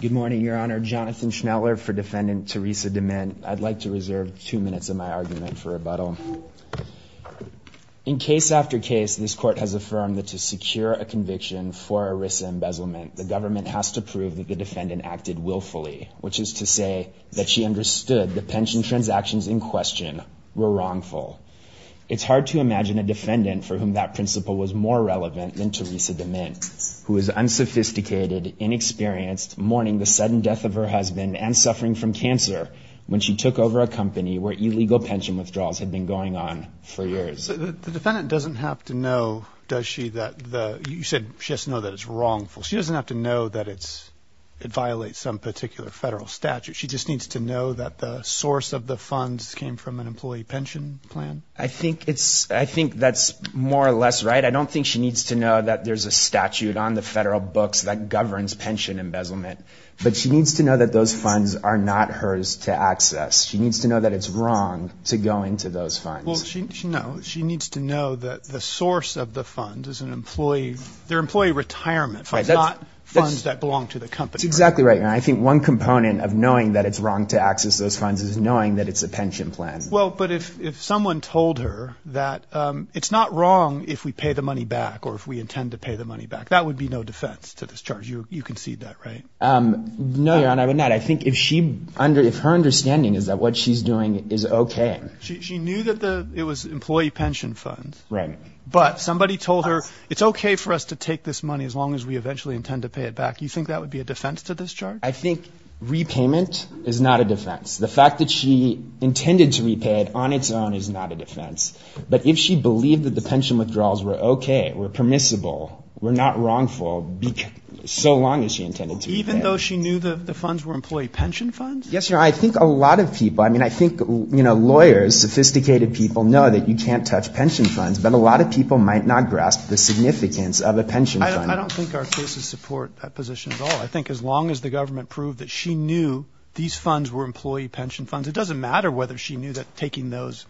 Good morning, Your Honor. Jonathan Schneller for Defendant Teresa Demint. I'd like to reserve two minutes of my argument for rebuttal. In case after case, this Court has affirmed that to secure a conviction for ERISA embezzlement, the government has to prove that the defendant acted willfully, which is to say that she understood the pension transactions in question were wrongful. It's hard to imagine a defendant for whom that principle was more relevant than Teresa Demint, who is unsophisticated, inexperienced, mourning the sudden death of her husband and suffering from cancer when she took over a company where illegal pension withdrawals had been going on for years. The defendant doesn't have to know, does she, that the – you said she has to know that it's wrongful. She doesn't have to know that it violates some particular federal statute. She just needs to know that the source of the funds came from an employee pension plan? I think it's – I think that's more or less right. I don't think she needs to know that there's a statute on the federal books that governs pension embezzlement. But she needs to know that those funds are not hers to access. She needs to know that it's wrong to go into those funds. Well, no, she needs to know that the source of the funds is an employee – they're employee retirement funds, not funds that belong to the company. That's exactly right. I think one component of knowing that it's wrong to access those funds is knowing that it's a pension plan. Well, but if someone told her that it's not wrong if we pay the money back or if we intend to pay the money back, that would be no defense to this charge. You concede that, right? No, Your Honor, I would not. I think if she – if her understanding is that what she's doing is okay. She knew that the – it was employee pension funds. Right. But somebody told her it's okay for us to take this money as long as we eventually intend to pay it back. Do you think that would be a defense to this charge? I think repayment is not a defense. The fact that she intended to repay it on its own is not a defense. But if she believed that the pension withdrawals were okay, were permissible, were not wrongful, so long as she intended to repay it. Even though she knew the funds were employee pension funds? Yes, Your Honor. I think a lot of people – I mean, I think, you know, lawyers, sophisticated people know that you can't touch pension funds. But a lot of people might not grasp the significance of a pension fund. I don't think our cases support that position at all. I think as long as the government proved that she knew these funds were employee pension funds, it doesn't matter whether she knew that taking those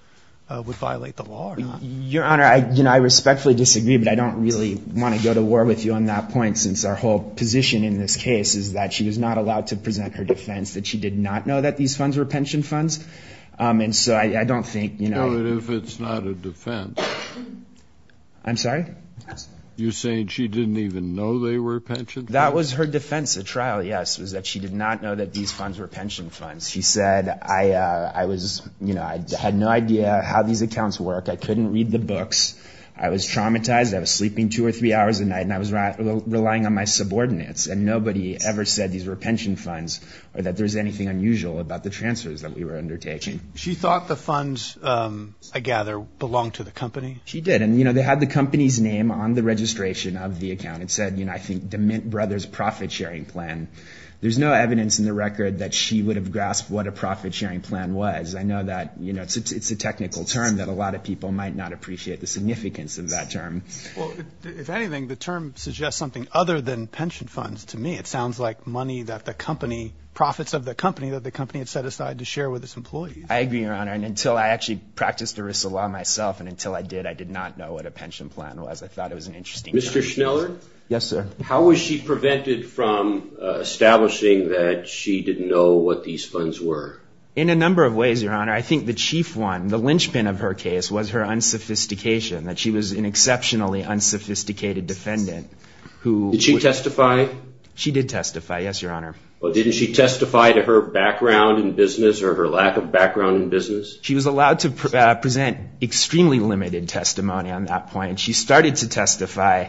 would violate the law or not. Your Honor, you know, I respectfully disagree, but I don't really want to go to war with you on that point, since our whole position in this case is that she was not allowed to present her defense, that she did not know that these funds were pension funds. And so I don't think, you know – No, but if it's not a defense – I'm sorry? You're saying she didn't even know they were pension funds? That was her defense at trial, yes, was that she did not know that these funds were pension funds. She said, I was – you know, I had no idea how these accounts work. I couldn't read the books. I was traumatized. I was sleeping two or three hours a night, and I was relying on my subordinates. And nobody ever said these were pension funds or that there was anything unusual about the transfers that we were undertaking. She thought the funds, I gather, belonged to the company? She did. And, you know, they had the company's name on the registration of the account. It said, you know, I think, DeMint Brothers Profit-Sharing Plan. There's no evidence in the record that she would have grasped what a profit-sharing plan was. I know that, you know, it's a technical term that a lot of people might not appreciate the significance of that term. Well, if anything, the term suggests something other than pension funds to me. It sounds like money that the company – profits of the company that the company had set aside to share with its employees. I agree, Your Honor. And until I actually practiced ERISA law myself, and until I did, I did not know what a pension plan was. I thought it was an interesting term. Mr. Schneller? Yes, sir. How was she prevented from establishing that she didn't know what these funds were? In a number of ways, Your Honor. I think the chief one, the linchpin of her case, was her unsophistication, that she was an exceptionally unsophisticated defendant. Did she testify? She did testify, yes, Your Honor. Well, didn't she testify to her background in business or her lack of background in business? She was allowed to present extremely limited testimony on that point. She started to testify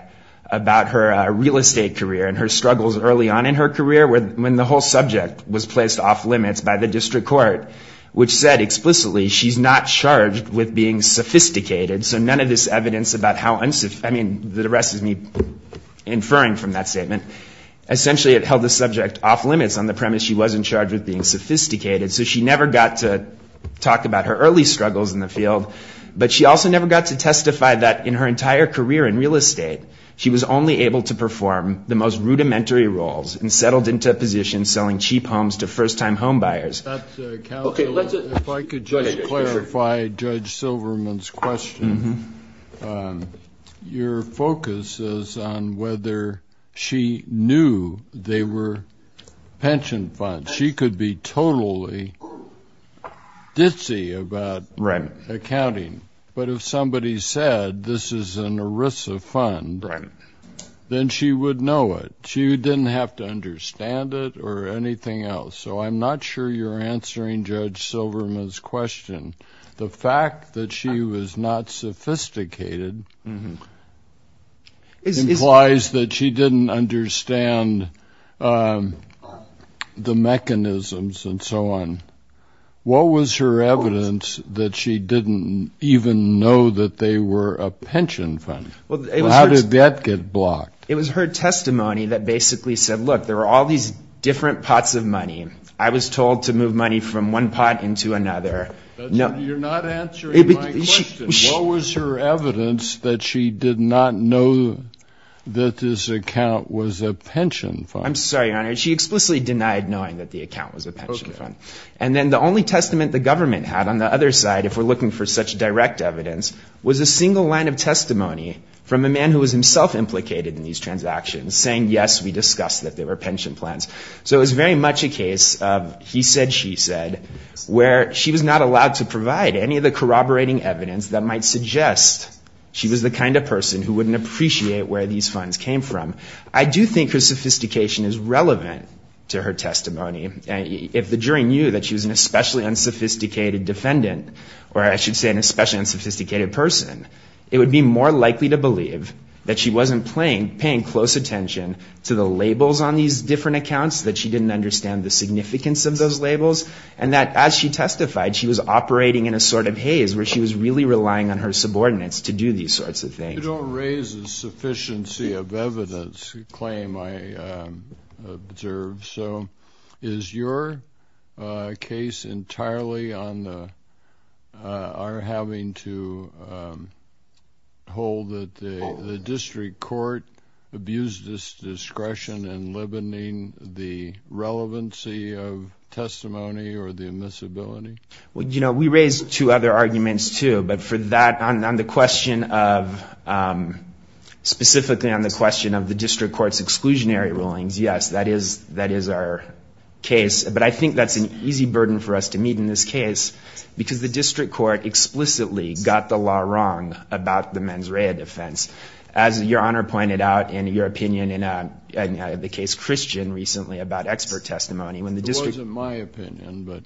about her real estate career and her struggles early on in her career when the whole subject was placed off limits by the district court, which said explicitly she's not charged with being sophisticated. So none of this evidence about how – I mean, the rest is me inferring from that statement. Essentially, it held the subject off limits on the premise she wasn't charged with being sophisticated. So she never got to talk about her early struggles in the field, but she also never got to testify that in her entire career in real estate, she was only able to perform the most rudimentary roles and settled into a position selling cheap homes to first-time homebuyers. That's a calculation. If I could just clarify Judge Silverman's question. Your focus is on whether she knew they were pension funds. She could be totally ditzy about accounting, but if somebody said this is an ERISA fund, then she would know it. She didn't have to understand it or anything else. So I'm not sure you're answering Judge Silverman's question. The fact that she was not sophisticated implies that she didn't understand the mechanisms and so on. What was her evidence that she didn't even know that they were a pension fund? How did that get blocked? It was her testimony that basically said, look, there are all these different pots of money. I was told to move money from one pot into another. You're not answering my question. What was her evidence that she did not know that this account was a pension fund? I'm sorry, Your Honor. She explicitly denied knowing that the account was a pension fund. And then the only testament the government had on the other side, if we're looking for such direct evidence, was a single line of testimony from a man who was himself implicated in these transactions, saying, yes, we discussed that they were pension plans. So it was very much a case of he said, she said, where she was not allowed to provide any of the corroborating evidence that might suggest she was the kind of person who wouldn't appreciate where these funds came from. I do think her sophistication is relevant to her testimony. If the jury knew that she was an especially unsophisticated defendant, or I should say an especially unsophisticated person, it would be more likely to believe that she wasn't paying close attention to the labels on these different accounts, that she didn't understand the significance of those labels, and that as she testified, she was operating in a sort of haze, where she was really relying on her subordinates to do these sorts of things. You don't raise a sufficiency of evidence claim, I observe. So is your case entirely on our having to hold that the district court abused its discretion in limiting the relevancy of testimony or the admissibility? Well, you know, we raised two other arguments, too, but for that, on the question of, specifically on the question of the district court's exclusionary rulings, yes, that is our case, but I think that's an easy burden for us to meet in this case, because the district court explicitly got the law wrong about the mens rea defense. As Your Honor pointed out in your opinion in the case Christian recently about expert testimony. It wasn't my opinion.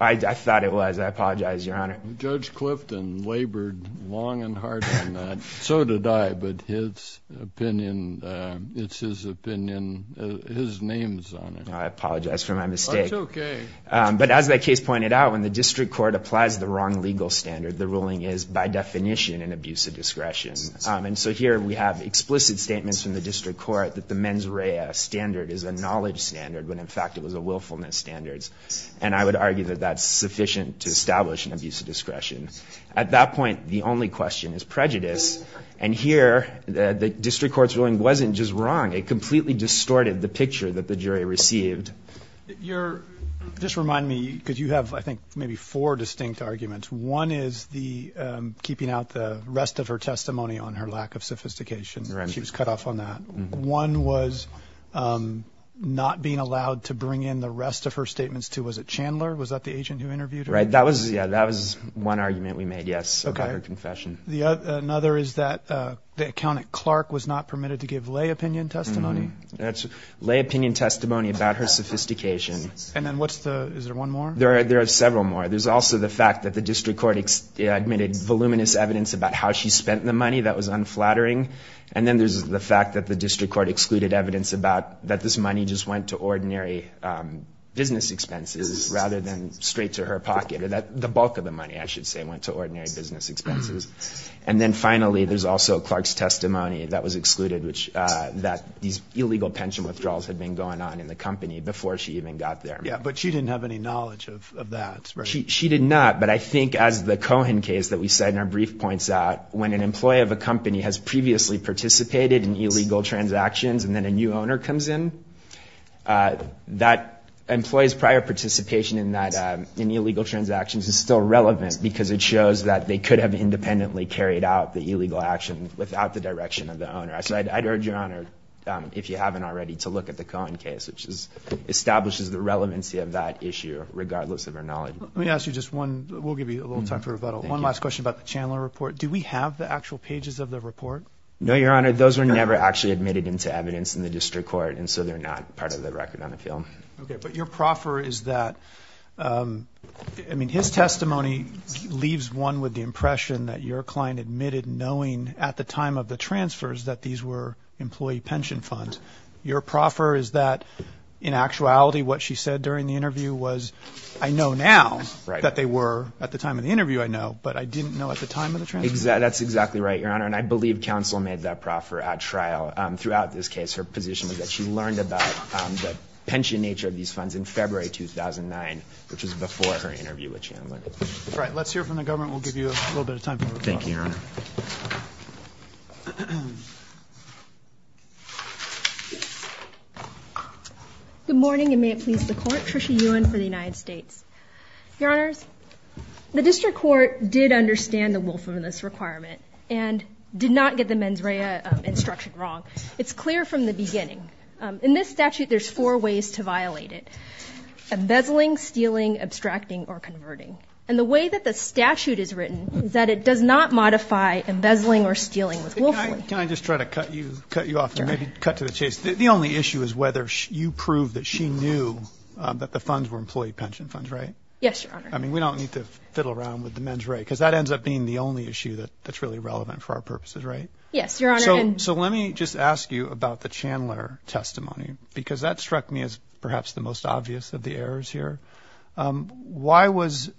I thought it was. I apologize, Your Honor. Judge Clifton labored long and hard on that. So did I, but his opinion, it's his opinion, his name's on it. I apologize for my mistake. That's okay. But as that case pointed out, when the district court applies the wrong legal standard, the ruling is by definition an abuse of discretion. And so here we have explicit statements from the district court that the mens rea standard is a knowledge standard, when in fact it was a willfulness standard, and I would argue that that's sufficient to establish an abuse of discretion. At that point, the only question is prejudice. And here the district court's ruling wasn't just wrong. It completely distorted the picture that the jury received. Just remind me, because you have, I think, maybe four distinct arguments. One is keeping out the rest of her testimony on her lack of sophistication. She was cut off on that. One was not being allowed to bring in the rest of her statements. Was it Chandler? Was that the agent who interviewed her? That was one argument we made, yes, about her confession. Another is that the accountant, Clark, was not permitted to give lay opinion testimony. That's lay opinion testimony about her sophistication. And then what's the, is there one more? There are several more. There's also the fact that the district court admitted voluminous evidence about how she spent the money. That was unflattering. And then there's the fact that the district court excluded evidence about that this money just went to ordinary business expenses rather than straight to her pocket. The bulk of the money, I should say, went to ordinary business expenses. And then finally, there's also Clark's testimony that was excluded, which that these illegal pension withdrawals had been going on in the company before she even got there. Yeah, but she didn't have any knowledge of that. She did not, but I think as the Cohen case that we said in our brief points out, when an employee of a company has previously participated in illegal transactions and then a new owner comes in, that employee's prior participation in illegal transactions is still relevant because it shows that they could have independently carried out the illegal action without the direction of the owner. So I'd urge, Your Honor, if you haven't already, to look at the Cohen case, which establishes the relevancy of that issue regardless of her knowledge. Let me ask you just one. We'll give you a little time for rebuttal. One last question about the Chandler report. Do we have the actual pages of the report? No, Your Honor. Those were never actually admitted into evidence in the district court, and so they're not part of the record on the field. Okay, but your proffer is that, I mean, his testimony leaves one with the impression that your client admitted knowing at the time of the transfers that these were employee pension funds. Your proffer is that, in actuality, what she said during the interview was, I know now that they were at the time of the interview, I know, but I didn't know at the time of the transfer. That's exactly right, Your Honor, and I believe counsel made that proffer at trial. Throughout this case, her position was that she learned about the pension nature of these funds in February 2009, which was before her interview with Chandler. All right. Let's hear from the government. We'll give you a little bit of time for rebuttal. Thank you, Your Honor. Good morning, and may it please the Court. Trisha Ewen for the United States. Your Honors, the district court did understand the wolf in this requirement and did not get the mens rea instruction wrong. It's clear from the beginning. In this statute, there's four ways to violate it, embezzling, stealing, abstracting, or converting, and the way that the statute is written is that it does not modify embezzling or stealing with wolfly. Can I just try to cut you off and maybe cut to the chase? The only issue is whether you prove that she knew that the funds were employee pension funds, right? Yes, Your Honor. I mean, we don't need to fiddle around with the mens rea, because that ends up being the only issue that's really relevant for our purposes, right? Yes, Your Honor. So let me just ask you about the Chandler testimony, because that struck me as perhaps the most obvious of the errors here. Why was –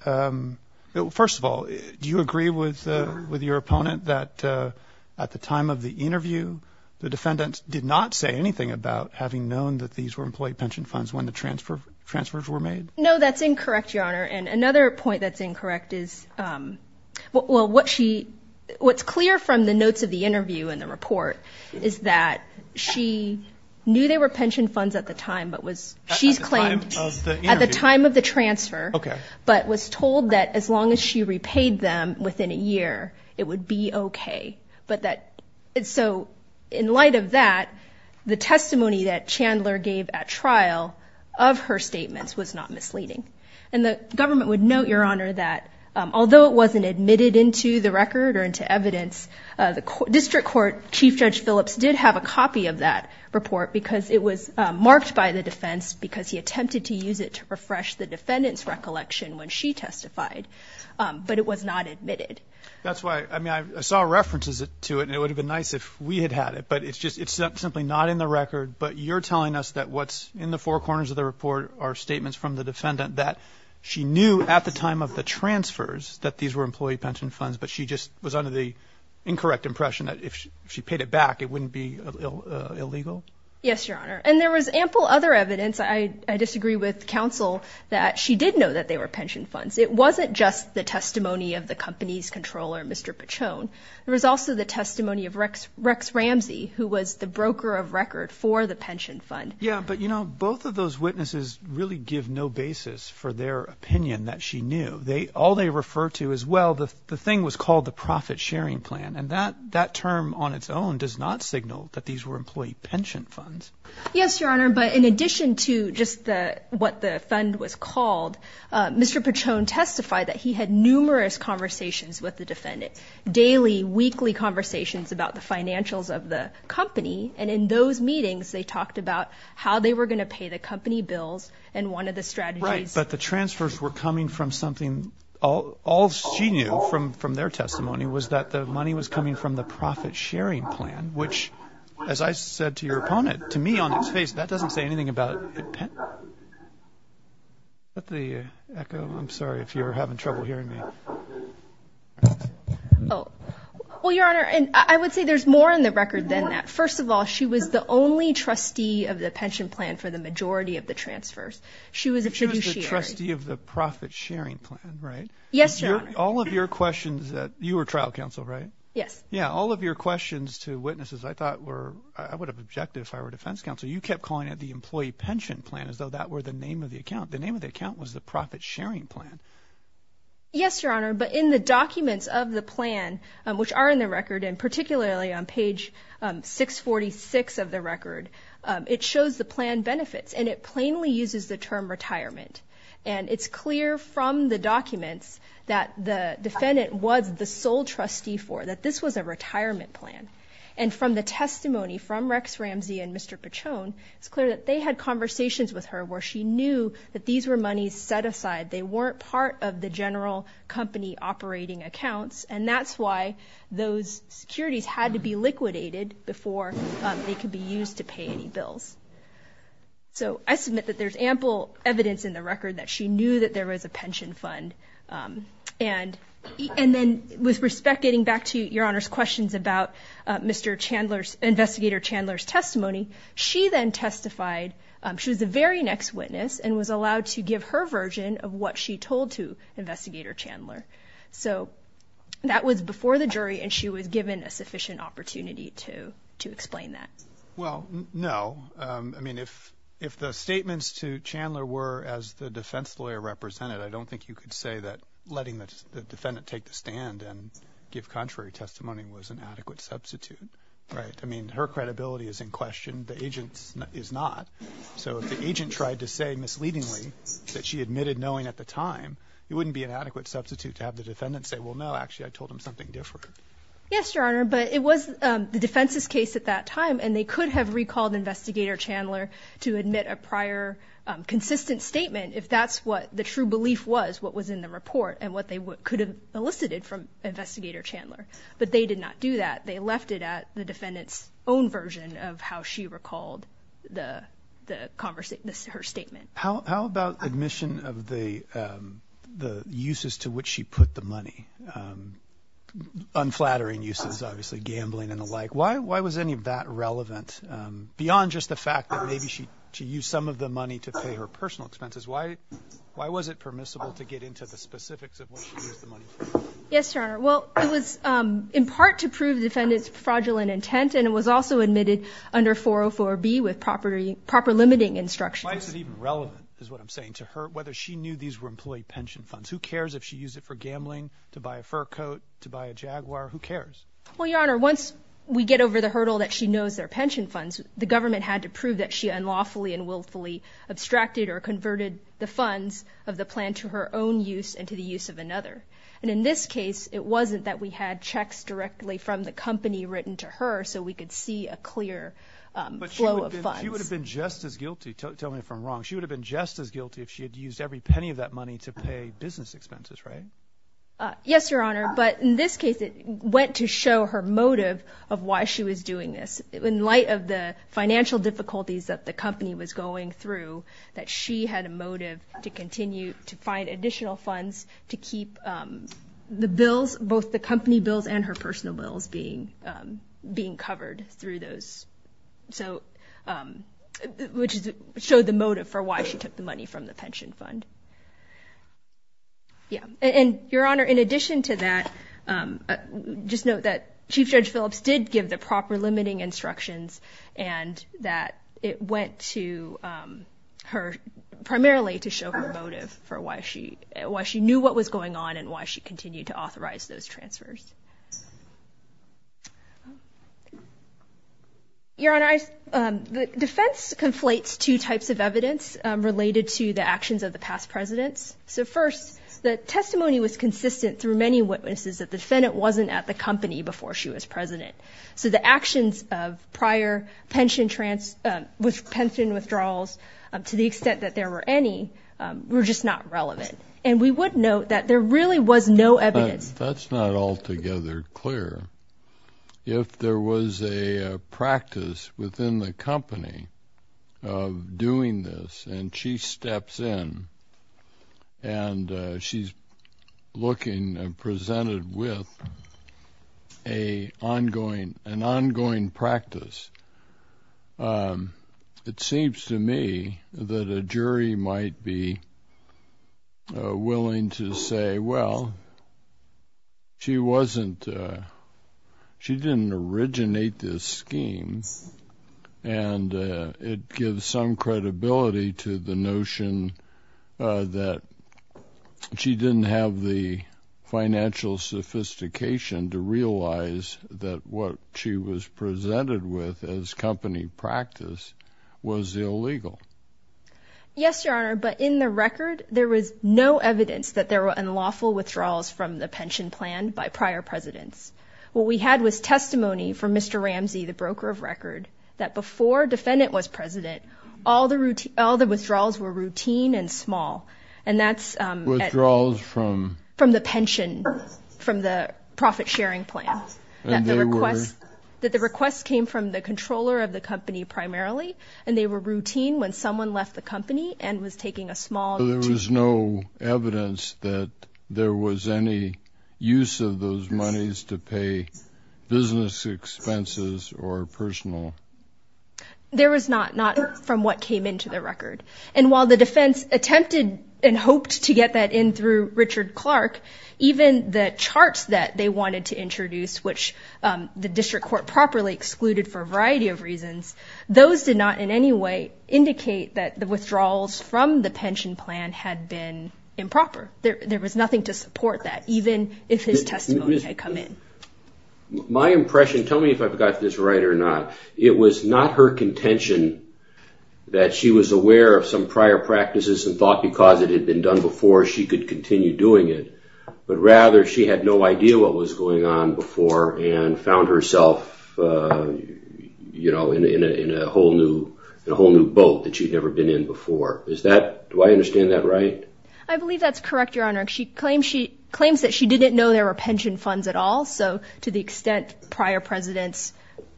first of all, do you agree with your opponent that at the time of the interview, the defendant did not say anything about having known that these were employee pension funds when the transfers were made? No, that's incorrect, Your Honor. And another point that's incorrect is – well, what she – what's clear from the notes of the interview and the report is that she knew they were pension funds at the time, but was – she's claimed at the time of the transfer, but was told that as long as she repaid them within a year, it would be okay. But that – so in light of that, the testimony that Chandler gave at trial of her statements was not misleading. And the government would note, Your Honor, that although it wasn't admitted into the record or into evidence, the district court, Chief Judge Phillips, did have a copy of that report because it was marked by the defense because he attempted to use it to refresh the defendant's recollection when she testified, but it was not admitted. That's why – I mean, I saw references to it, and it would have been nice if we had had it, but it's just – it's simply not in the record. But you're telling us that what's in the four corners of the report are statements from the defendant that she knew at the time of the transfers that these were employee pension funds, but she just was under the incorrect impression that if she paid it back, it wouldn't be illegal? Yes, Your Honor. And there was ample other evidence – I disagree with counsel – that she did know that they were pension funds. It wasn't just the testimony of the company's controller, Mr. Pachone. There was also the testimony of Rex Ramsey, who was the broker of record for the pension fund. Yeah, but, you know, both of those witnesses really give no basis for their opinion that she knew. All they refer to is, well, the thing was called the profit-sharing plan, and that term on its own does not signal that these were employee pension funds. Yes, Your Honor, but in addition to just what the fund was called, Mr. Pachone testified that he had numerous conversations with the defendant, daily, weekly conversations about the financials of the company, and in those meetings they talked about how they were going to pay the company bills and one of the strategies. Right, but the transfers were coming from something all she knew from their testimony was that the money was coming from the profit-sharing plan, which, as I said to your opponent, to me, on its face, that doesn't say anything about it. Let the echo, I'm sorry if you're having trouble hearing me. Well, Your Honor, I would say there's more in the record than that. First of all, she was the only trustee of the pension plan for the majority of the transfers. She was a fiduciary. She was the trustee of the profit-sharing plan, right? Yes, Your Honor. All of your questions, you were trial counsel, right? Yes. Yeah, all of your questions to witnesses I thought were, I would have objected if I were defense counsel. You kept calling it the employee pension plan as though that were the name of the account. The name of the account was the profit-sharing plan. Yes, Your Honor, but in the documents of the plan, which are in the record, and particularly on page 646 of the record, it shows the plan benefits, and it plainly uses the term retirement. And it's clear from the documents that the defendant was the sole trustee for, that this was a retirement plan. And from the testimony from Rex Ramsey and Mr. Pichone, it's clear that they had conversations with her where she knew that these were monies set aside. They weren't part of the general company operating accounts, and that's why those securities had to be liquidated before they could be used to pay any bills. So I submit that there's ample evidence in the record that she knew that there was a pension fund. And then with respect, getting back to Your Honor's questions about Mr. Chandler's, Investigator Chandler's testimony, she then testified. She was the very next witness and was allowed to give her version of what she told to Investigator Chandler. So that was before the jury, and she was given a sufficient opportunity to explain that. Well, no. I mean, if the statements to Chandler were as the defense lawyer represented, I don't think you could say that letting the defendant take the stand and give contrary testimony was an adequate substitute, right? I mean, her credibility is in question. The agent's is not. So if the agent tried to say misleadingly that she admitted knowing at the time, it wouldn't be an adequate substitute to have the defendant say, well, no, actually, I told him something different. Yes, Your Honor, but it was the defense's case at that time, and they could have recalled Investigator Chandler to admit a prior consistent statement if that's what the true belief was, what was in the report, and what they could have elicited from Investigator Chandler. But they did not do that. They left it at the defendant's own version of how she recalled her statement. How about admission of the uses to which she put the money? Unflattering uses, obviously, gambling and the like. Why was any of that relevant? Beyond just the fact that maybe she used some of the money to pay her personal expenses, why was it permissible to get into the specifics of what she used the money for? Yes, Your Honor. Well, it was in part to prove the defendant's fraudulent intent, and it was also admitted under 404B with proper limiting instructions. Why is it even relevant is what I'm saying to her, whether she knew these were employee pension funds. Who cares if she used it for gambling, to buy a fur coat, to buy a Jaguar? Who cares? Well, Your Honor, once we get over the hurdle that she knows they're pension funds, the government had to prove that she unlawfully and willfully abstracted or converted the funds of the plan to her own use and to the use of another. And in this case, it wasn't that we had checks directly from the company written to her so we could see a clear flow of funds. But she would have been just as guilty. Tell me if I'm wrong. She would have been just as guilty if she had used every penny of that money to pay business expenses, right? Yes, Your Honor. But in this case, it went to show her motive of why she was doing this. In light of the financial difficulties that the company was going through, that she had a motive to continue to find additional funds to keep the bills, both the company bills and her personal bills, being covered through those, which showed the motive for why she took the money from the pension fund. Yeah. And, Your Honor, in addition to that, just note that Chief Judge Phillips did give the proper limiting instructions and that it went to her primarily to show her motive for why she knew what was going on and why she continued to authorize those transfers. Your Honor, the defense conflates two types of evidence related to the actions of the past presidents. So, first, the testimony was consistent through many witnesses that the defendant wasn't at the company before she was president. So the actions of prior pension withdrawals, to the extent that there were any, were just not relevant. And we would note that there really was no evidence. That's not altogether clear. If there was a practice within the company of doing this, and she steps in and she's looking and presented with an ongoing practice, it seems to me that a jury might be willing to say, well, she didn't originate this scheme, and it gives some credibility to the notion that she didn't have the financial sophistication to realize that what she was presented with as company practice was illegal. Yes, Your Honor, but in the record, there was no evidence that there were unlawful withdrawals from the pension plan by prior presidents. What we had was testimony from Mr. Ramsey, the broker of record, that before the defendant was president, all the withdrawals were routine and small. Withdrawals from? From the pension, from the profit-sharing plan. And they were? That the requests came from the controller of the company primarily, and they were routine when someone left the company and was taking a small. So there was no evidence that there was any use of those monies to pay business expenses or personal? There was not, not from what came into the record. And while the defense attempted and hoped to get that in through Richard Clark, even the charts that they wanted to introduce, which the district court properly excluded for a variety of reasons, those did not in any way indicate that the withdrawals from the pension plan had been improper. There was nothing to support that, even if his testimony had come in. My impression, tell me if I've got this right or not, it was not her contention that she was aware of some prior practices and thought because it had been done before she could continue doing it, but rather she had no idea what was going on before and found herself in a whole new boat that she'd never been in before. Do I understand that right? I believe that's correct, Your Honor. She claims that she didn't know there were pension funds at all, so to the extent prior presidents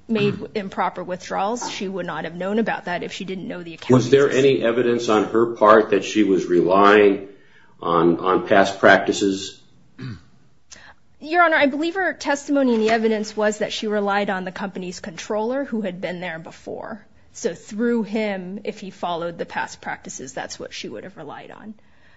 made improper withdrawals, she would not have known about that if she didn't know the accountants. Was there any evidence on her part that she was relying on past practices? Your Honor, I believe her testimony in the evidence was that she relied on the company's controller who had been there before. So through him, if he followed the past practices, that's what she would have relied on.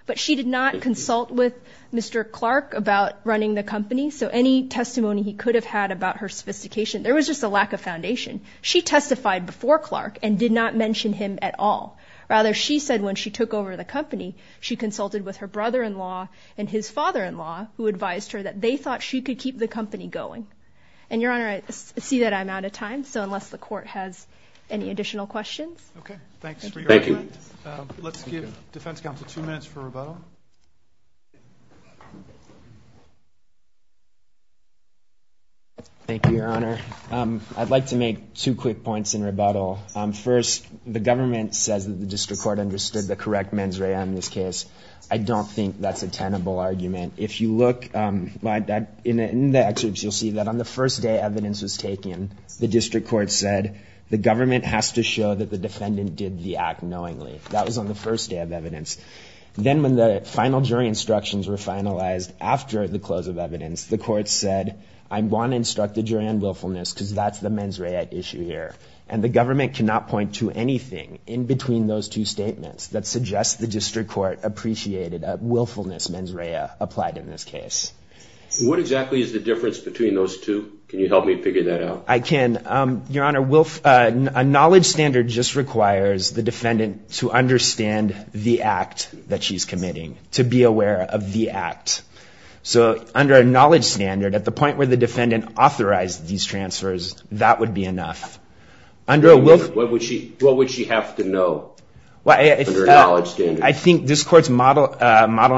But she did not consult with Mr. Clark about running the company, so any testimony he could have had about her sophistication, there was just a lack of foundation. She testified before Clark and did not mention him at all. Rather, she said when she took over the company, she consulted with her brother-in-law and his father-in-law who advised her that they thought she could keep the company going. And, Your Honor, I see that I'm out of time, so unless the Court has any additional questions. Okay, thanks for your argument. Let's give Defense Counsel two minutes for rebuttal. Thank you, Your Honor. I'd like to make two quick points in rebuttal. First, the government says that the district court understood the correct mens rea in this case. I don't think that's a tenable argument. If you look in the excerpts, you'll see that on the first day evidence was taken, the district court said the government has to show that the defendant did the act knowingly. That was on the first day of evidence. Then when the final jury instructions were finalized after the close of evidence, the court said, I want to instruct the jury on willfulness because that's the mens rea issue here. And the government cannot point to anything in between those two statements that suggests the district court appreciated a willfulness mens rea applied in this case. What exactly is the difference between those two? Can you help me figure that out? I can. Your Honor, a knowledge standard just requires the defendant to understand the act that she's committing, to be aware of the act. So under a knowledge standard, at the point where the defendant authorized these transfers, that would be enough. What would she have to know under a knowledge standard? I think this court's model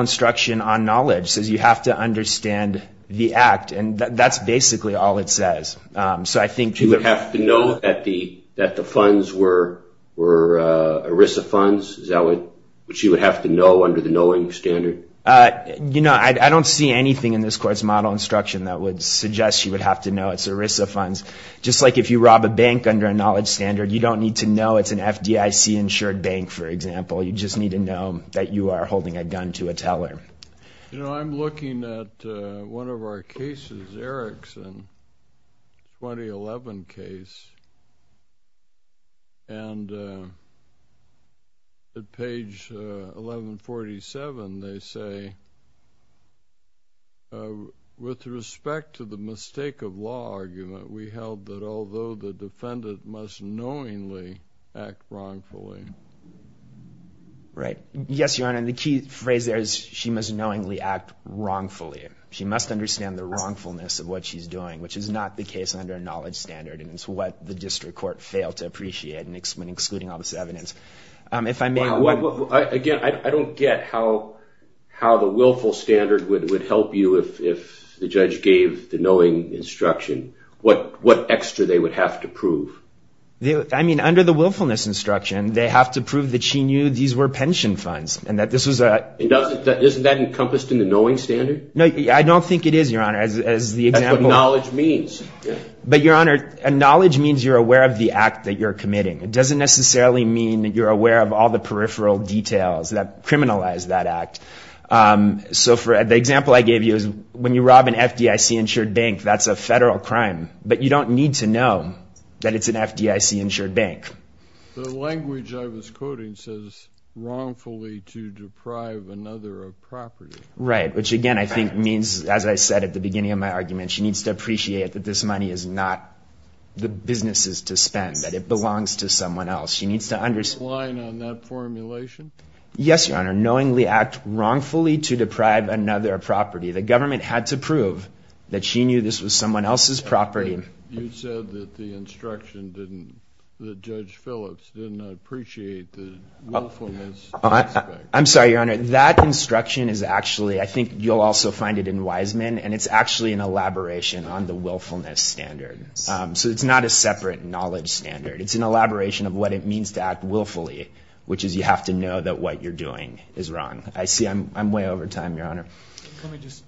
instruction on knowledge says you have to understand the act, and that's basically all it says. She would have to know that the funds were ERISA funds, which she would have to know under the knowing standard? I don't see anything in this court's model instruction that would suggest she would have to know it's ERISA funds. Just like if you rob a bank under a knowledge standard, you don't need to know it's an FDIC-insured bank, for example. You just need to know that you are holding a gun to a teller. You know, I'm looking at one of our cases, Erickson, 2011 case, and at page 1147 they say, with respect to the mistake of law argument, we held that although the defendant must knowingly act wrongfully. Right. Yes, Your Honor, and the key phrase there is she must knowingly act wrongfully. She must understand the wrongfulness of what she's doing, which is not the case under a knowledge standard, and it's what the district court failed to appreciate when excluding all this evidence. Again, I don't get how the willful standard would help you if the judge gave the knowing instruction what extra they would have to prove. I mean, under the willfulness instruction, they have to prove that she knew these were pension funds. Isn't that encompassed in the knowing standard? No, I don't think it is, Your Honor. That's what knowledge means. But, Your Honor, knowledge means you're aware of the act that you're committing. It doesn't necessarily mean that you're aware of all the peripheral details that criminalize that act. So the example I gave you is when you rob an FDIC-insured bank, that's a federal crime, but you don't need to know that it's an FDIC-insured bank. The language I was quoting says wrongfully to deprive another of property. Right, which, again, I think means, as I said at the beginning of my argument, she needs to appreciate that this money is not the businesses to spend, that it belongs to someone else. She needs to understand. Is the line on that formulation? Yes, Your Honor, knowingly act wrongfully to deprive another of property. The government had to prove that she knew this was someone else's property. You said that the instruction didn't, that Judge Phillips didn't appreciate the willfulness aspect. I'm sorry, Your Honor. That instruction is actually, I think you'll also find it in Wiseman, and it's actually an elaboration on the willfulness standard. So it's not a separate knowledge standard. It's an elaboration of what it means to act willfully, which is you have to know that what you're doing is wrong. I see I'm way over time, Your Honor. Can we just,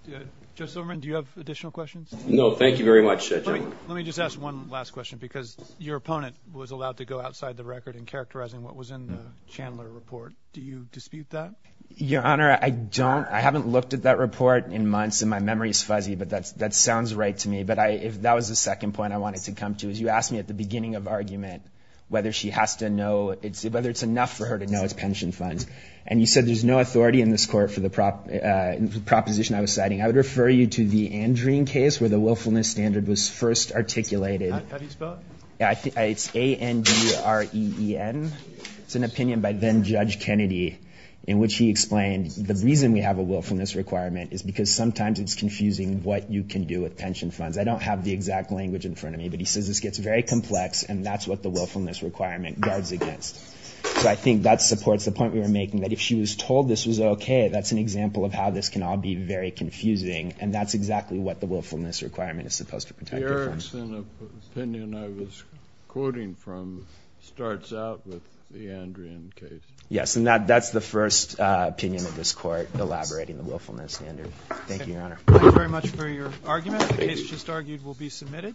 Judge Silverman, do you have additional questions? No, thank you very much, Judge. Let me just ask one last question, because your opponent was allowed to go outside the record in characterizing what was in the Chandler report. Do you dispute that? Your Honor, I don't. I haven't looked at that report in months, and my memory is fuzzy, but that sounds right to me. But that was the second point I wanted to come to, is you asked me at the beginning of argument whether she has to know, whether it's enough for her to know it's pension funds. And you said there's no authority in this court for the proposition I was citing. I would refer you to the Andreen case where the willfulness standard was first articulated. Have you spelled it? It's A-N-D-R-E-E-N. It's an opinion by then-Judge Kennedy in which he explained the reason we have a willfulness requirement is because sometimes it's confusing what you can do with pension funds. I don't have the exact language in front of me, but he says this gets very complex, and that's what the willfulness requirement guards against. So I think that supports the point we were making, that if she was told this was okay, that's an example of how this can all be very confusing, and that's exactly what the willfulness requirement is supposed to protect her from. The Erickson opinion I was quoting from starts out with the Andreen case. Yes, and that's the first opinion of this court elaborating the willfulness standard. Thank you, Your Honor. Thank you very much for your argument. The case just argued will be submitted.